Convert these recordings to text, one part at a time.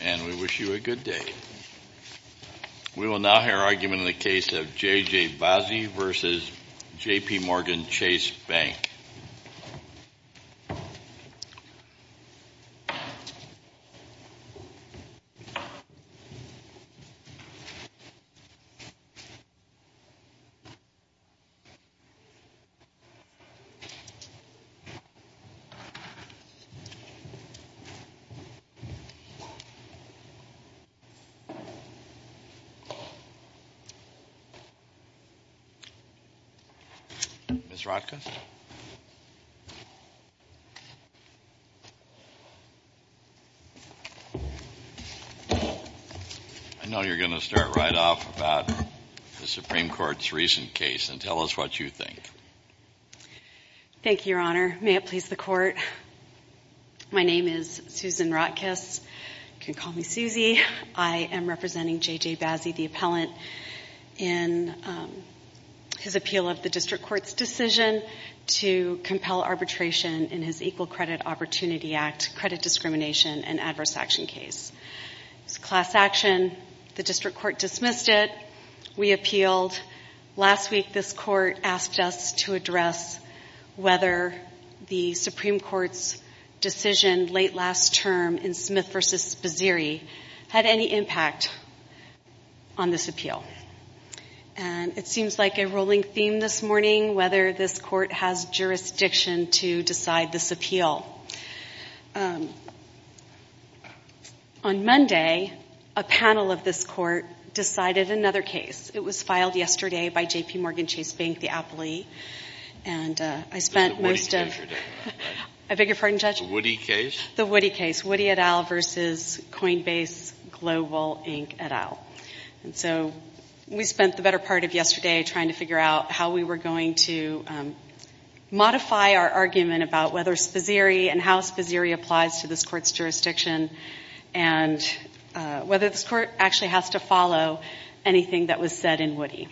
And we wish you a good day. We will now hear argument in the case of J.J. Bazzi v. JPMorgan Chase Bank. I know you're going to start right off about the Supreme Court's recent case, and tell us what you think. Thank you, Your Honor. May it please the Court. My name is Susan Rotkiss. You can call me Susie. I am representing J.J. Bazzi, the appellant, in his appeal of the District Court's decision to compel arbitration in his Equal Credit Opportunity Act credit discrimination and adverse action case. It's a class action. The District Court dismissed it. We appealed. Last week, this Court asked us to address whether the Supreme Court's decision late last term in Smith v. Bazziri had any impact on this appeal. And it seems like a rolling theme this morning, whether this Court has jurisdiction to decide this appeal. On Monday, a panel of this Court decided another case. It was filed yesterday by J.P. Morgan Chase Bank, the appellee. I beg your pardon, Judge? The Woody case? The Woody case. Woody et al. v. Coinbase Global Inc. et al. We spent the better part of yesterday trying to figure out how we were going to modify our argument about whether Bazziri and how Bazziri applies to this Court's jurisdiction and whether this Court actually has to follow anything that was said in Woody.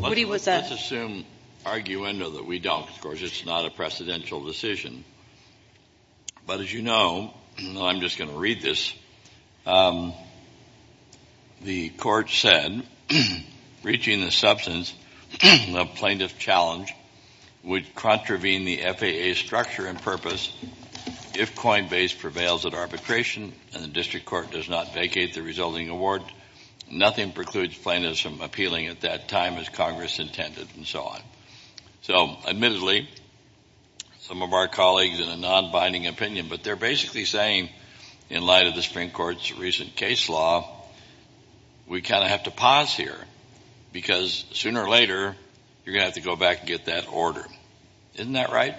Woody was a... Let's assume, argue, and know that we don't. Of course, it's not a precedential decision. But as you know, and I'm just going to read this, the Court said, reaching the substance of plaintiff challenge would contravene the FAA's structure and purpose if Coinbase prevails at arbitration and the District Court does not vacate the resulting award. Nothing precludes plaintiffs from appealing at that time as Congress intended, and so on. So admittedly, some of our colleagues in a non-binding opinion, but they're basically saying in light of the Supreme Court's recent case law, we kind of have to pause here because sooner or later you're going to have to go back and get that order. Isn't that right?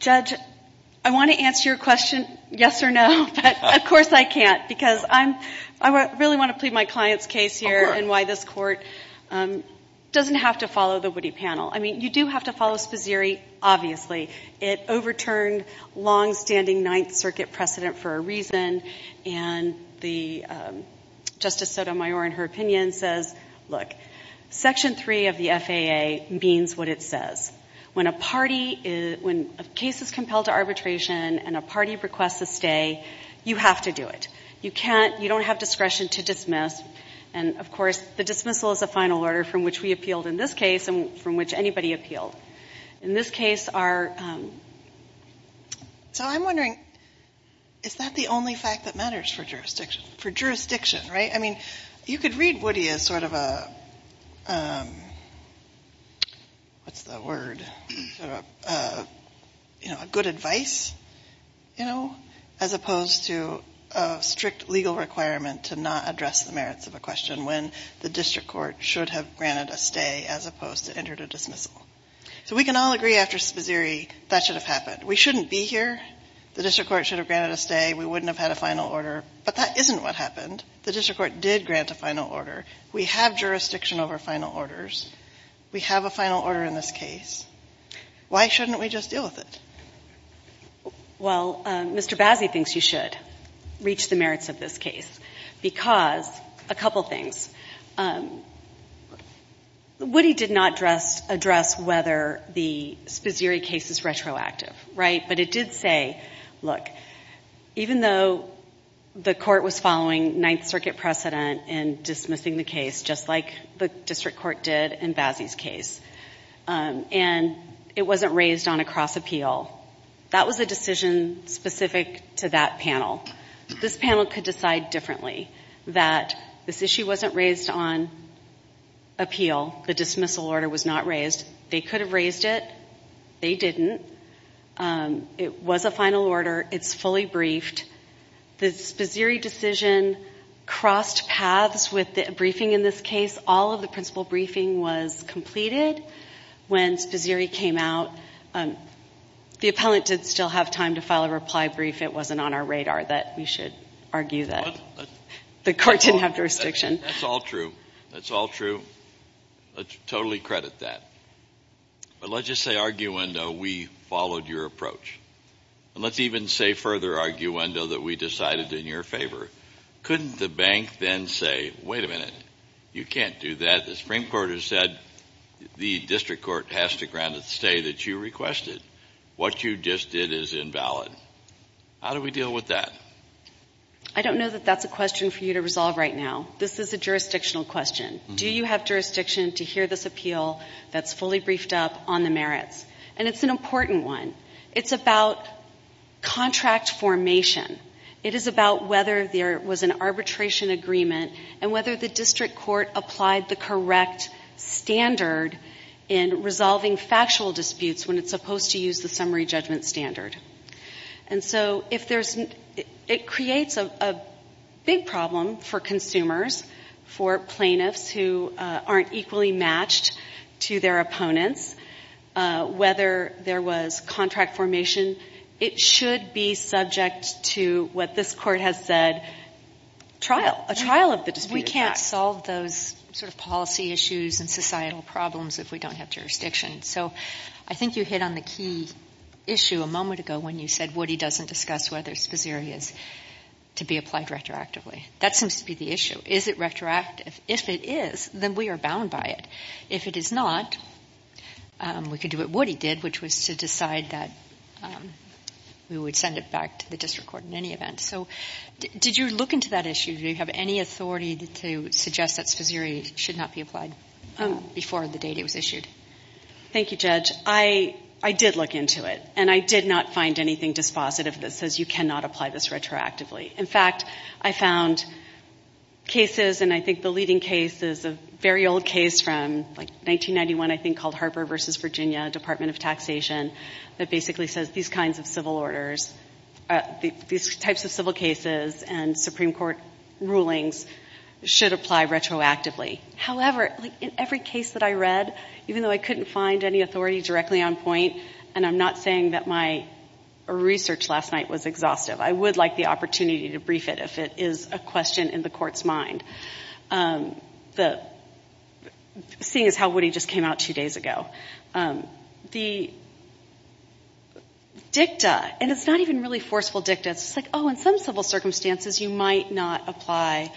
Judge, I want to answer your question yes or no, but of course I can't because I really want to plead my client's case here and why this Court doesn't have to follow the Woody panel. I mean, you do have to follow Bazziri, obviously. It overturned longstanding Ninth Circuit precedent for a reason, and Justice Sotomayor in her opinion says, look, Section 3 of the FAA means what it says. When a case is compelled to arbitration and a party requests a stay, you have to do it. You don't have discretion to dismiss, and of course the dismissal is a final order from which we appealed in this case and from which anybody appealed. So I'm wondering, is that the only fact that matters for jurisdiction, right? I mean, you could read Woody as sort of a good advice, you know, as opposed to a strict legal requirement to not address the merits of a question when the district court should have granted a stay as opposed to entered a dismissal. So we can all agree after Bazziri that should have happened. We shouldn't be here. The district court should have granted a stay. We wouldn't have had a final order, but that isn't what happened. The district court did grant a final order. We have jurisdiction over final orders. We have a final order in this case. Why shouldn't we just deal with it? Well, Mr. Bazziri thinks you should reach the merits of this case because a couple things. Woody did not address whether the Spazziri case is retroactive, right? But it did say, look, even though the court was following Ninth Circuit precedent in dismissing the case just like the district court did in Bazziri's case and it wasn't raised on a cross appeal, that was a decision specific to that panel. This panel could decide differently that this issue wasn't raised on appeal. The dismissal order was not raised. They could have raised it. They didn't. It was a final order. It's fully briefed. The Spazziri decision crossed paths with the briefing in this case. All of the principal briefing was completed when Spazziri came out. The appellant did still have time to file a reply brief. It wasn't on our radar that we should argue that the court didn't have jurisdiction. That's all true. That's all true. I totally credit that. But let's just say, arguendo, we followed your approach. And let's even say further, arguendo, that we decided in your favor. Couldn't the bank then say, wait a minute, you can't do that. The Supreme Court has said the district court has to grant a stay that you requested. What you just did is invalid. How do we deal with that? I don't know that that's a question for you to resolve right now. This is a jurisdictional question. Do you have jurisdiction to hear this appeal that's fully briefed up on the merits? And it's an important one. It's about contract formation. It is about whether there was an arbitration agreement and whether the district court applied the correct standard in resolving factual disputes when it's supposed to use the summary judgment standard. And so it creates a big problem for consumers, for plaintiffs who aren't equally matched to their opponents, whether there was contract formation. It should be subject to what this court has said, trial. A trial of the disputed facts. We can't solve those sort of policy issues and societal problems if we don't have jurisdiction. So I think you hit on the key issue a moment ago when you said Woody doesn't discuss whether Spazeri is to be applied retroactively. That seems to be the issue. Is it retroactive? If it is, then we are bound by it. If it is not, we could do what Woody did, which was to decide that we would send it back to the district court in any event. So did you look into that issue? Do you have any authority to suggest that Spazeri should not be applied before the date it was issued? Thank you, Judge. I did look into it, and I did not find anything dispositive that says you cannot apply this retroactively. In fact, I found cases, and I think the leading case is a very old case from 1991, I think, called Harper v. Virginia, Department of Taxation, that basically says these kinds of civil orders, these types of civil cases and Supreme Court rulings should apply retroactively. However, in every case that I read, even though I couldn't find any authority directly on point, and I'm not saying that my research last night was exhaustive, I would like the opportunity to brief it if it is a question in the Court's mind, seeing as how Woody just came out two days ago. The dicta, and it's not even really forceful dicta, it's just like, oh, in some civil circumstances, you might not apply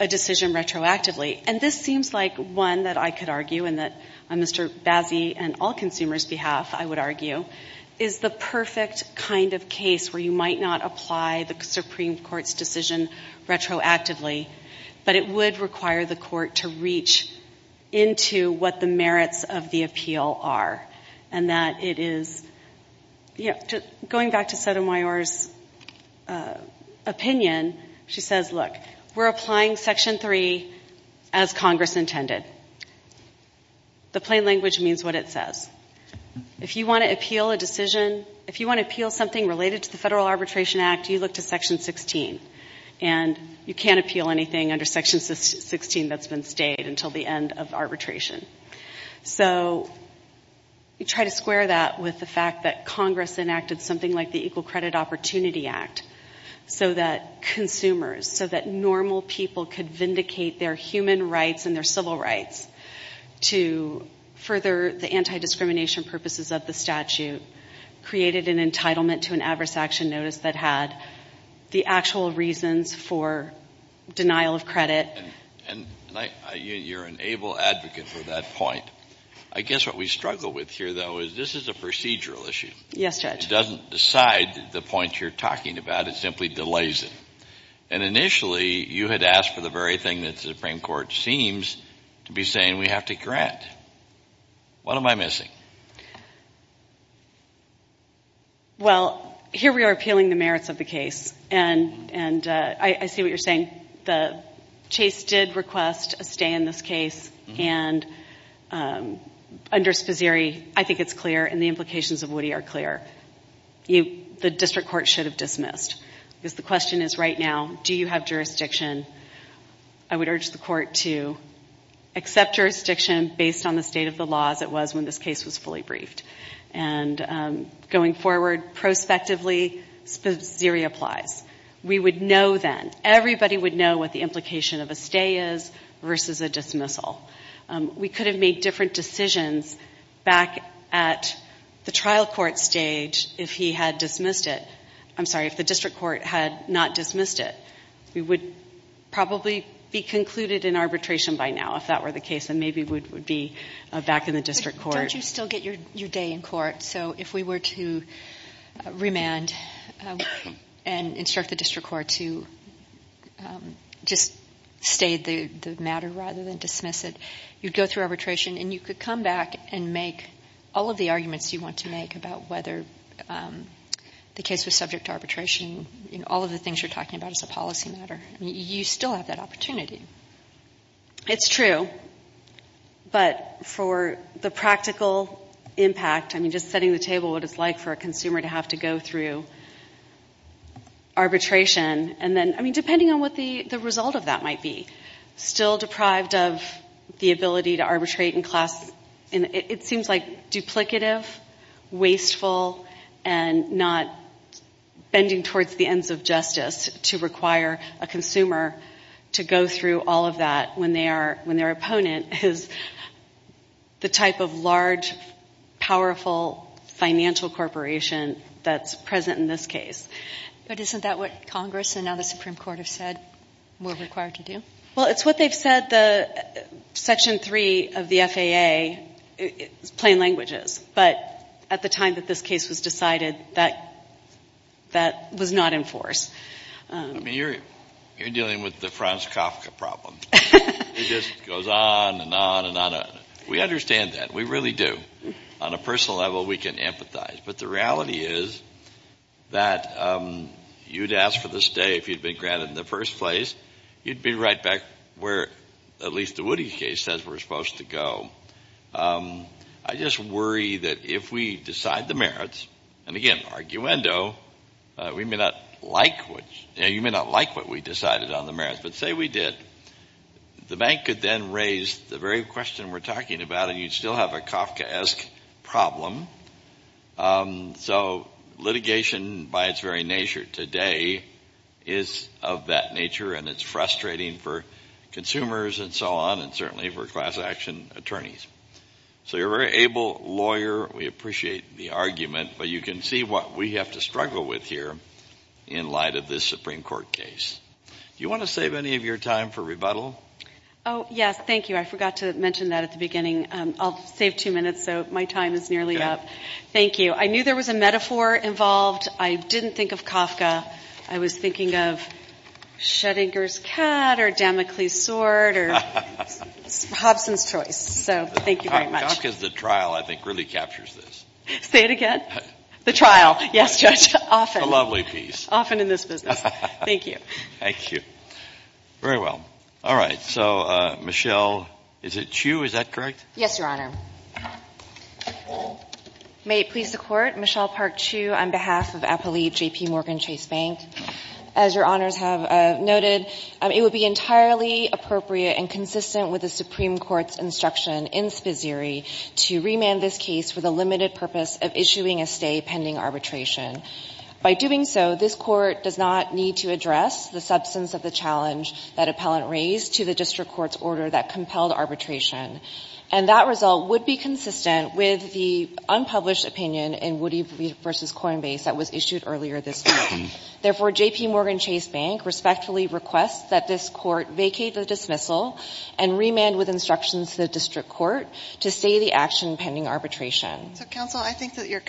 a decision retroactively. And this seems like one that I could argue and that Mr. Bazzi and all consumers behalf, I would argue, is the perfect kind of case where you might not apply the Supreme Court's decision retroactively, but it would require the Court to reach into what the merits of the appeal are and that it is going back to Sotomayor's opinion. She says, look, we're applying Section 3 as Congress intended. The plain language means what it says. If you want to appeal a decision, if you want to appeal something related to the Federal Arbitration Act, you look to Section 16. And you can't appeal anything under Section 16 that's been stayed until the end of arbitration. So you try to square that with the fact that Congress enacted something like the Equal Credit Opportunity Act so that consumers, so that normal people could vindicate their human rights and their civil rights to further the anti-discrimination purposes of the statute, created an entitlement to an adverse action notice that had the actual reasons for denial of credit. And you're an able advocate for that point. I guess what we struggle with here, though, is this is a procedural issue. Yes, Judge. It doesn't decide the point you're talking about. It simply delays it. And initially, you had asked for the very thing that the Supreme Court seems to be saying we have to grant. What am I missing? Well, here we are appealing the merits of the case. And I see what you're saying. Chase did request a stay in this case. And under Sposieri, I think it's clear and the implications of Woody are clear. The district court should have dismissed. Because the question is right now, do you have jurisdiction? I would urge the court to accept jurisdiction based on the state of the law as it was when this case was fully briefed. And going forward, prospectively, Sposieri applies. We would know then, everybody would know what the implication of a stay is versus a dismissal. We could have made different decisions back at the trial court stage if he had dismissed it. I'm sorry, if the district court had not dismissed it. We would probably be concluded in arbitration by now if that were the case, and maybe we would be back in the district court. Don't you still get your day in court? So if we were to remand and instruct the district court to just stay the matter rather than dismiss it, you'd go through arbitration. And you could come back and make all of the arguments you want to make about whether the case was subject to arbitration. All of the things you're talking about is a policy matter. You still have that opportunity. It's true. But for the practical impact, I mean, just setting the table, what it's like for a consumer to have to go through arbitration. I mean, depending on what the result of that might be. Still deprived of the ability to arbitrate in class. It seems like duplicative, wasteful, and not bending towards the ends of justice to require a consumer to go through all of that when their opponent is the type of large, powerful financial corporation that's present in this case. But isn't that what Congress and now the Supreme Court have said we're required to do? Well, it's what they've said. Section 3 of the FAA is plain languages. But at the time that this case was decided, that was not in force. I mean, you're dealing with the Franz Kafka problem. It just goes on and on and on. We understand that. We really do. On a personal level, we can empathize. But the reality is that you'd ask for the stay if you'd been granted in the first place. You'd be right back where at least the Woody case says we're supposed to go. I just worry that if we decide the merits, and again, arguendo, we may not like what we decided on the merits. But say we did. The bank could then raise the very question we're talking about, and you'd still have a Kafkaesque problem. So litigation by its very nature today is of that nature, and it's frustrating for consumers and so on, and certainly for class action attorneys. So you're a very able lawyer. We appreciate the argument. But you can see what we have to struggle with here in light of this Supreme Court case. Do you want to save any of your time for rebuttal? Oh, yes. Thank you. I forgot to mention that at the beginning. I'll save two minutes, so my time is nearly up. Thank you. I knew there was a metaphor involved. I didn't think of Kafka. I was thinking of Schrodinger's Cat or Damocles' Sword or Hobson's Choice. So thank you very much. Kafka's The Trial, I think, really captures this. Say it again? The Trial. Yes, Judge. Often. The lovely piece. Often in this business. Thank you. Thank you. Very well. All right. So, Michelle, is it Chiu? Is that correct? Yes, Your Honor. May it please the Court. Michelle Park Chiu on behalf of Appellee J.P. Morgan Chase Bank. As Your Honors have noted, it would be entirely appropriate and consistent with the Supreme Court's instruction in Spizzeri to remand this case for the limited purpose of issuing a stay pending arbitration. By doing so, this Court does not need to address the substance of the challenge that appellant raised to the district court's order that compelled arbitration. And that result would be consistent with the unpublished opinion in Woody v. Coinbase that was issued earlier this week. Therefore, J.P. Morgan Chase Bank respectfully requests that this Court vacate the dismissal and remand with instructions to the district court to stay the action pending arbitration. So, counsel, I think that you're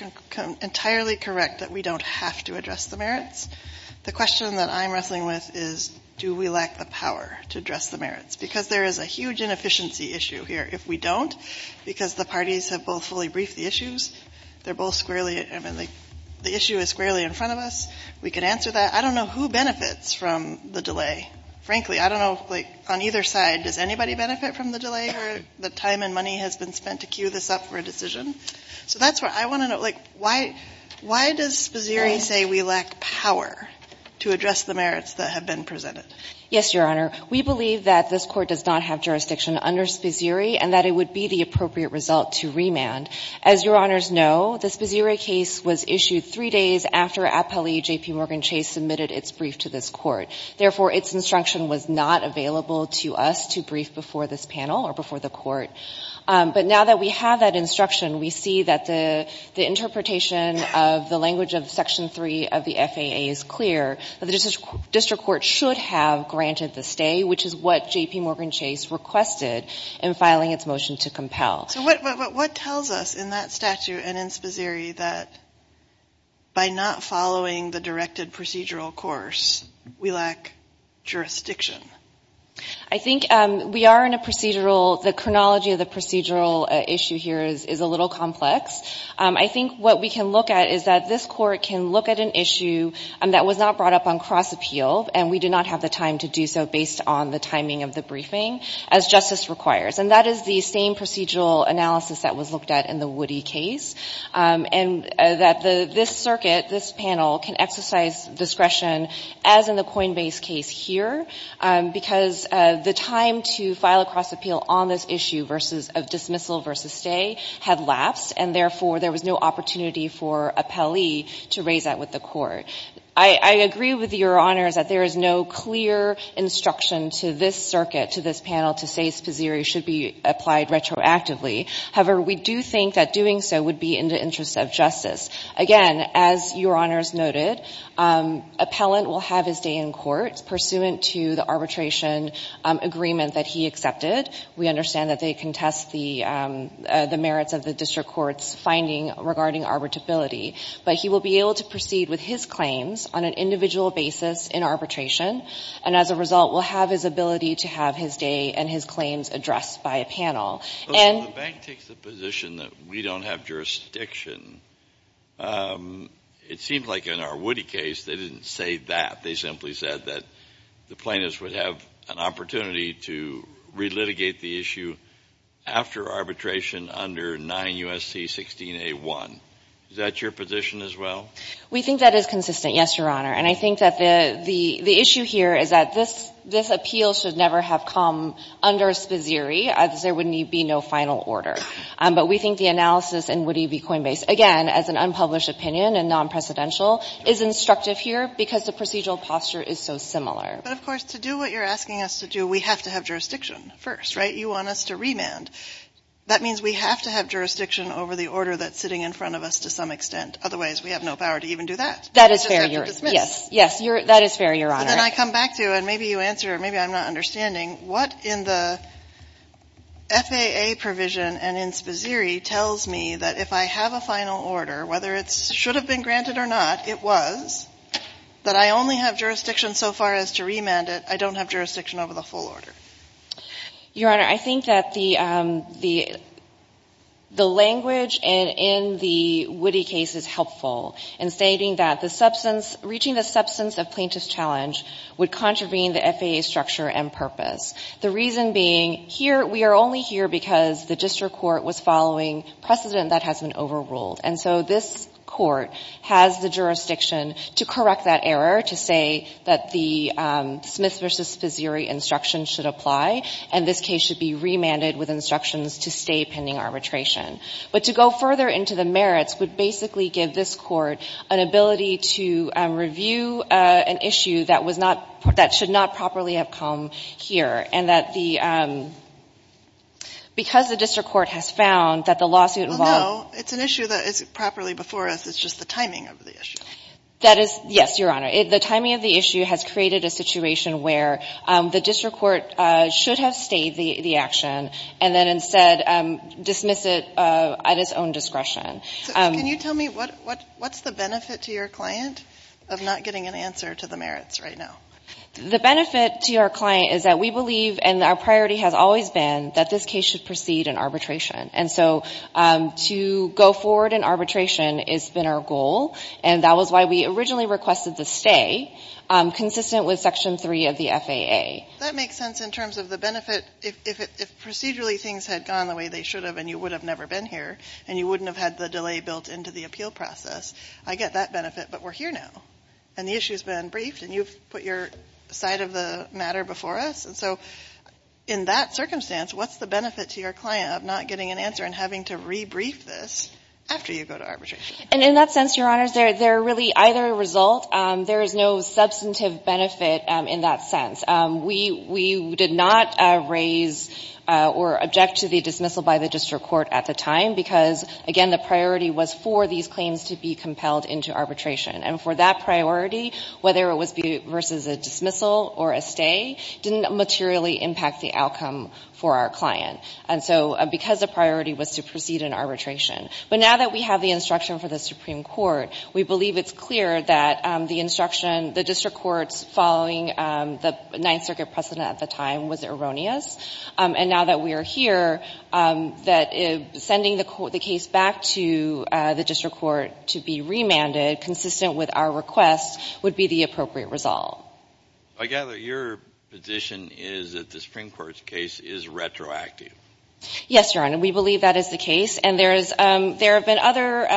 entirely correct that we don't have to address the merits. The question that I'm wrestling with is, do we lack the power to address the merits? Because there is a huge inefficiency issue here. If we don't, because the parties have both fully briefed the issues, they're both squarely, I mean, the issue is squarely in front of us. We can answer that. I don't know who benefits from the delay. Frankly, I don't know, like, on either side. Does anybody benefit from the delay or the time and money has been spent to queue this up for a decision? So that's what I want to know. Like, why does Spazzieri say we lack power to address the merits that have been presented? Yes, Your Honor. We believe that this Court does not have jurisdiction under Spazzieri and that it would be the appropriate result to remand. As Your Honors know, the Spazzieri case was issued three days after appellee J.P. Morgan Chase submitted its brief to this Court. Therefore, its instruction was not available to us to brief before this panel or before the Court. But now that we have that instruction, we see that the interpretation of the language of Section 3 of the FAA is clear, that the district court should have granted the stay, which is what J.P. Morgan Chase requested in filing its motion to compel. So what tells us in that statute and in Spazzieri that by not following the directed procedural course, we lack jurisdiction? I think we are in a procedural, the chronology of the procedural issue here is a little complex. I think what we can look at is that this Court can look at an issue that was not brought up on cross-appeal and we did not have the time to do so based on the timing of the briefing, as justice requires. And that is the same procedural analysis that was looked at in the Woody case. And that this circuit, this panel can exercise discretion as in the Coinbase case here, because the time to file a cross-appeal on this issue versus of dismissal versus stay had lapsed, and therefore there was no opportunity for appellee to raise that with the Court. I agree with Your Honors that there is no clear instruction to this circuit, to this panel, to say Spazzieri should be applied retroactively. However, we do think that doing so would be in the interest of justice. Again, as Your Honors noted, appellant will have his day in court pursuant to the arbitration agreement that he accepted. We understand that they contest the merits of the district court's finding regarding arbitrability. But he will be able to proceed with his claims on an individual basis in arbitration, and as a result will have his ability to have his day and his claims addressed by a panel. The bank takes the position that we don't have jurisdiction. It seems like in our Woody case they didn't say that. They simply said that the plaintiffs would have an opportunity to relitigate the issue after arbitration under 9 U.S.C. 16A1. Is that your position as well? We think that is consistent, yes, Your Honor. And I think that the issue here is that this appeal should never have come under Spazzieri, as there would be no final order. But we think the analysis in Woody v. Coinbase, again, as an unpublished opinion and non-precedential, is instructive here because the procedural posture is so similar. But, of course, to do what you're asking us to do, we have to have jurisdiction first, right? You want us to remand. That means we have to have jurisdiction over the order that's sitting in front of us to some extent. Otherwise, we have no power to even do that. That is fair, Your Honor. It's just there to dismiss. Yes, that is fair, Your Honor. And then I come back to, and maybe you answer or maybe I'm not understanding, what in the FAA provision and in Spazzieri tells me that if I have a final order, whether it should have been granted or not, it was, that I only have jurisdiction so far as to remand it, I don't have jurisdiction over the full order? Your Honor, I think that the language in the Woody case is helpful in stating that the substance, reaching the substance of plaintiff's challenge would contravene the FAA structure and purpose. The reason being, here, we are only here because the district court was following precedent that has been overruled. And so this court has the jurisdiction to correct that error, to say that the Smith v. Spazzieri instructions should apply, and this case should be remanded with instructions to stay pending arbitration. But to go further into the merits would basically give this court an ability to review an issue that was not, that should not properly have come here, and that the, because the district court has found that the lawsuit involved Well, no. It's an issue that is properly before us. It's just the timing of the issue. That is, yes, Your Honor. The timing of the issue has created a situation where the district court should have stayed the action and then instead dismiss it at its own discretion. Can you tell me what's the benefit to your client of not getting an answer to the merits right now? The benefit to our client is that we believe, and our priority has always been, that this case should proceed in arbitration. And so to go forward in arbitration has been our goal, and that was why we originally requested the stay consistent with Section 3 of the FAA. That makes sense in terms of the benefit. If procedurally things had gone the way they should have and you would have never been here and you wouldn't have had the delay built into the appeal process, I get that benefit, but we're here now. And the issue has been briefed, and you've put your side of the matter before us. And so in that circumstance, what's the benefit to your client of not getting an answer and having to rebrief this after you go to arbitration? And in that sense, Your Honors, they're really either a result. There is no substantive benefit in that sense. We did not raise or object to the dismissal by the district court at the time because, again, the priority was for these claims to be compelled into arbitration. And for that priority, whether it was versus a dismissal or a stay, didn't materially impact the outcome for our client. And so because the priority was to proceed in arbitration. But now that we have the instruction for the Supreme Court, we believe it's clear that the instruction, the district court's following the Ninth Circuit precedent at the time was erroneous. And now that we are here, that sending the case back to the district court to be remanded consistent with our request would be the appropriate result. I gather your position is that the Supreme Court's case is retroactive. Yes, Your Honor. We believe that is the case. And there have been other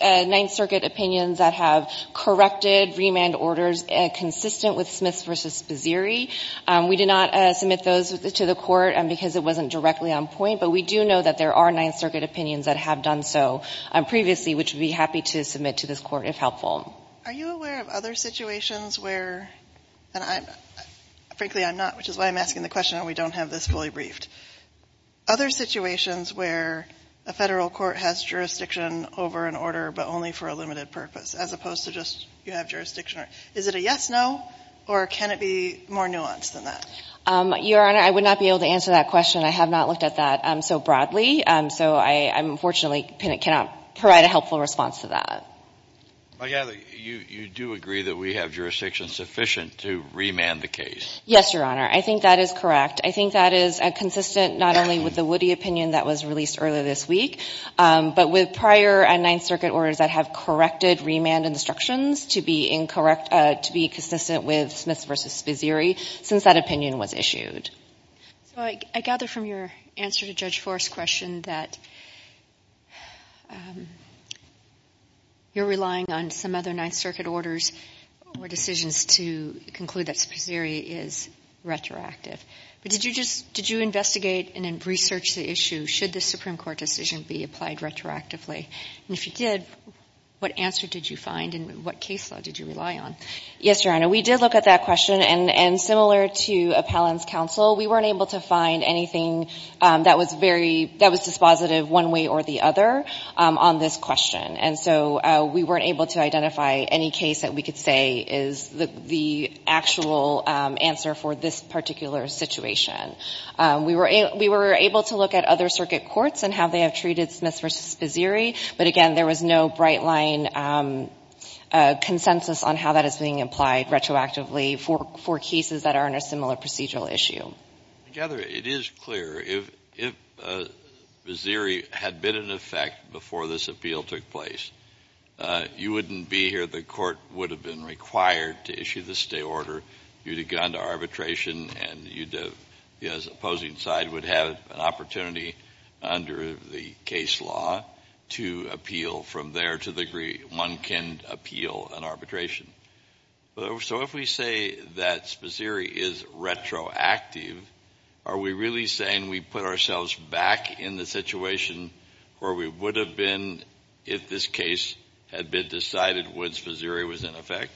Ninth Circuit opinions that have corrected remand orders consistent with Smiths v. Bazzieri. We did not submit those to the court because it wasn't directly on point. But we do know that there are Ninth Circuit opinions that have done so previously, which we'd be happy to submit to this court if helpful. Are you aware of other situations where, and frankly I'm not, which is why I'm asking the question and we don't have this fully briefed. Other situations where a Federal court has jurisdiction over an order but only for a limited purpose as opposed to just you have jurisdiction. Is it a yes, no? Or can it be more nuanced than that? Your Honor, I would not be able to answer that question. I have not looked at that so broadly. So I unfortunately cannot provide a helpful response to that. I gather you do agree that we have jurisdiction sufficient to remand the case. Yes, Your Honor. I think that is correct. I think that is consistent not only with the Woody opinion that was released earlier this week, but with prior Ninth Circuit orders that have corrected remand instructions to be consistent with Smiths v. Bazzieri since that opinion was issued. I gather from your answer to Judge Forrest's question that you're relying on some other Ninth Circuit orders or decisions to conclude that Bazzieri is retroactive. But did you investigate and research the issue? Should the Supreme Court decision be applied retroactively? And if you did, what answer did you find and what case law did you rely on? Yes, Your Honor. We did look at that question. And similar to Appellant's counsel, we weren't able to find anything that was dispositive one way or the other on this question. And so we weren't able to identify any case that we could say is the actual answer for this particular situation. We were able to look at other circuit courts and how they have treated Smiths v. Bazzieri. But, again, there was no bright-line consensus on how that is being applied retroactively for cases that are in a similar procedural issue. I gather it is clear. If Bazzieri had been in effect before this appeal took place, you wouldn't be here. The court would have been required to issue the stay order. You would have gone to arbitration and the opposing side would have an opportunity under the case law to appeal from there to the degree one can appeal an arbitration. So if we say that Bazzieri is retroactive, are we really saying we put ourselves back in the situation where we would have been if this case had been decided when Bazzieri was in effect?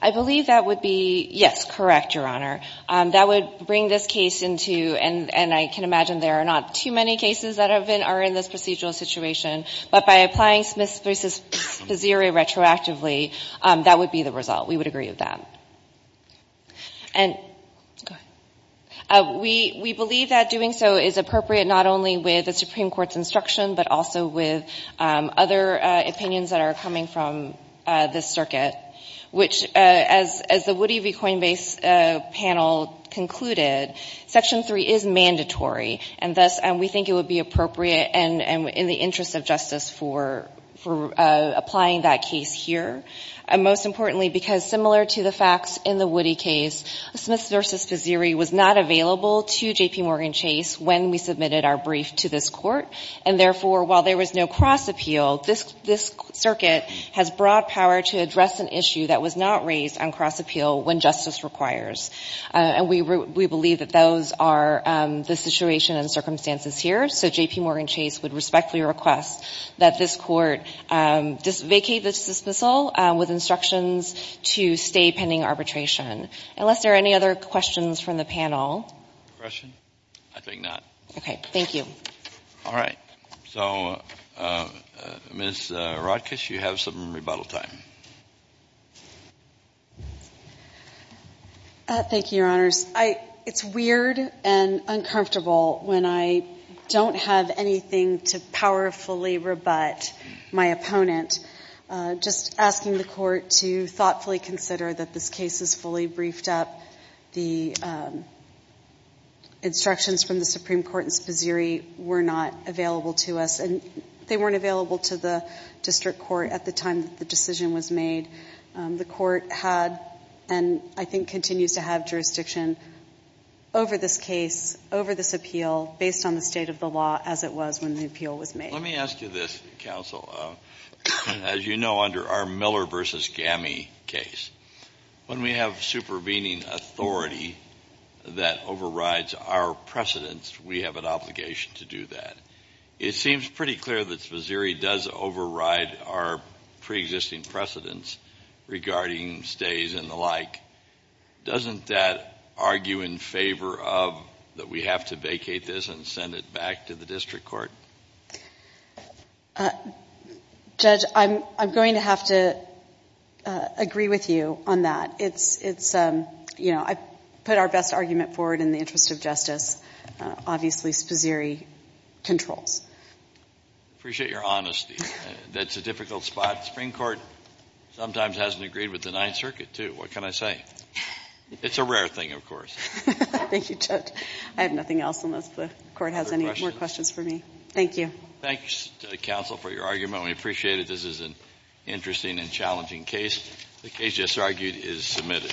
I believe that would be yes, correct, Your Honor. That would bring this case into, and I can imagine there are not too many cases that are in this procedural situation. But by applying Smiths v. Bazzieri retroactively, that would be the result. We would agree with that. And we believe that doing so is appropriate not only with the Supreme Court's instruction but also with other opinions that are coming from this circuit, which as the Woody v. Coinbase panel concluded, Section 3 is mandatory, and thus we think it would be appropriate and in the interest of justice for applying that case here. Most importantly, because similar to the facts in the Woody case, Smiths v. Bazzieri was not available to J.P. Morgan Chase when we submitted our brief to this court, and therefore while there was no cross appeal, this circuit has broad power to address an issue that was not raised on cross appeal when justice requires. And we believe that those are the situation and circumstances here, so J.P. Morgan Chase would respectfully request that this court vacate the dismissal with instructions to stay pending arbitration. Unless there are any other questions from the panel. The question? I think not. Thank you. All right. So, Ms. Rodkiss, you have some rebuttal time. Thank you, Your Honors. It's weird and uncomfortable when I don't have anything to powerfully rebut my opponent. Just asking the court to thoughtfully consider that this case is fully briefed up. The instructions from the Supreme Court and Bazzieri were not available to us, and they weren't available to the district court at the time that the decision was made. The court had and I think continues to have jurisdiction over this case, over this appeal, based on the state of the law as it was when the appeal was made. Let me ask you this, counsel. As you know, under our Miller v. Gammie case, when we have supervening authority that overrides our precedence, we have an obligation to do that. It seems pretty clear that Bazzieri does override our preexisting precedence regarding stays and the like. Doesn't that argue in favor of that we have to vacate this and send it back to the district court? Judge, I'm going to have to agree with you on that. It's, you know, I put our best argument forward in the interest of justice. Obviously, Bazzieri controls. Appreciate your honesty. That's a difficult spot. The Supreme Court sometimes hasn't agreed with the Ninth Circuit, too. What can I say? It's a rare thing, of course. Thank you, Judge. I have nothing else unless the court has any more questions for me. Thank you. Thanks, counsel, for your argument. We appreciate it. This is an interesting and challenging case. The case just argued is submitted.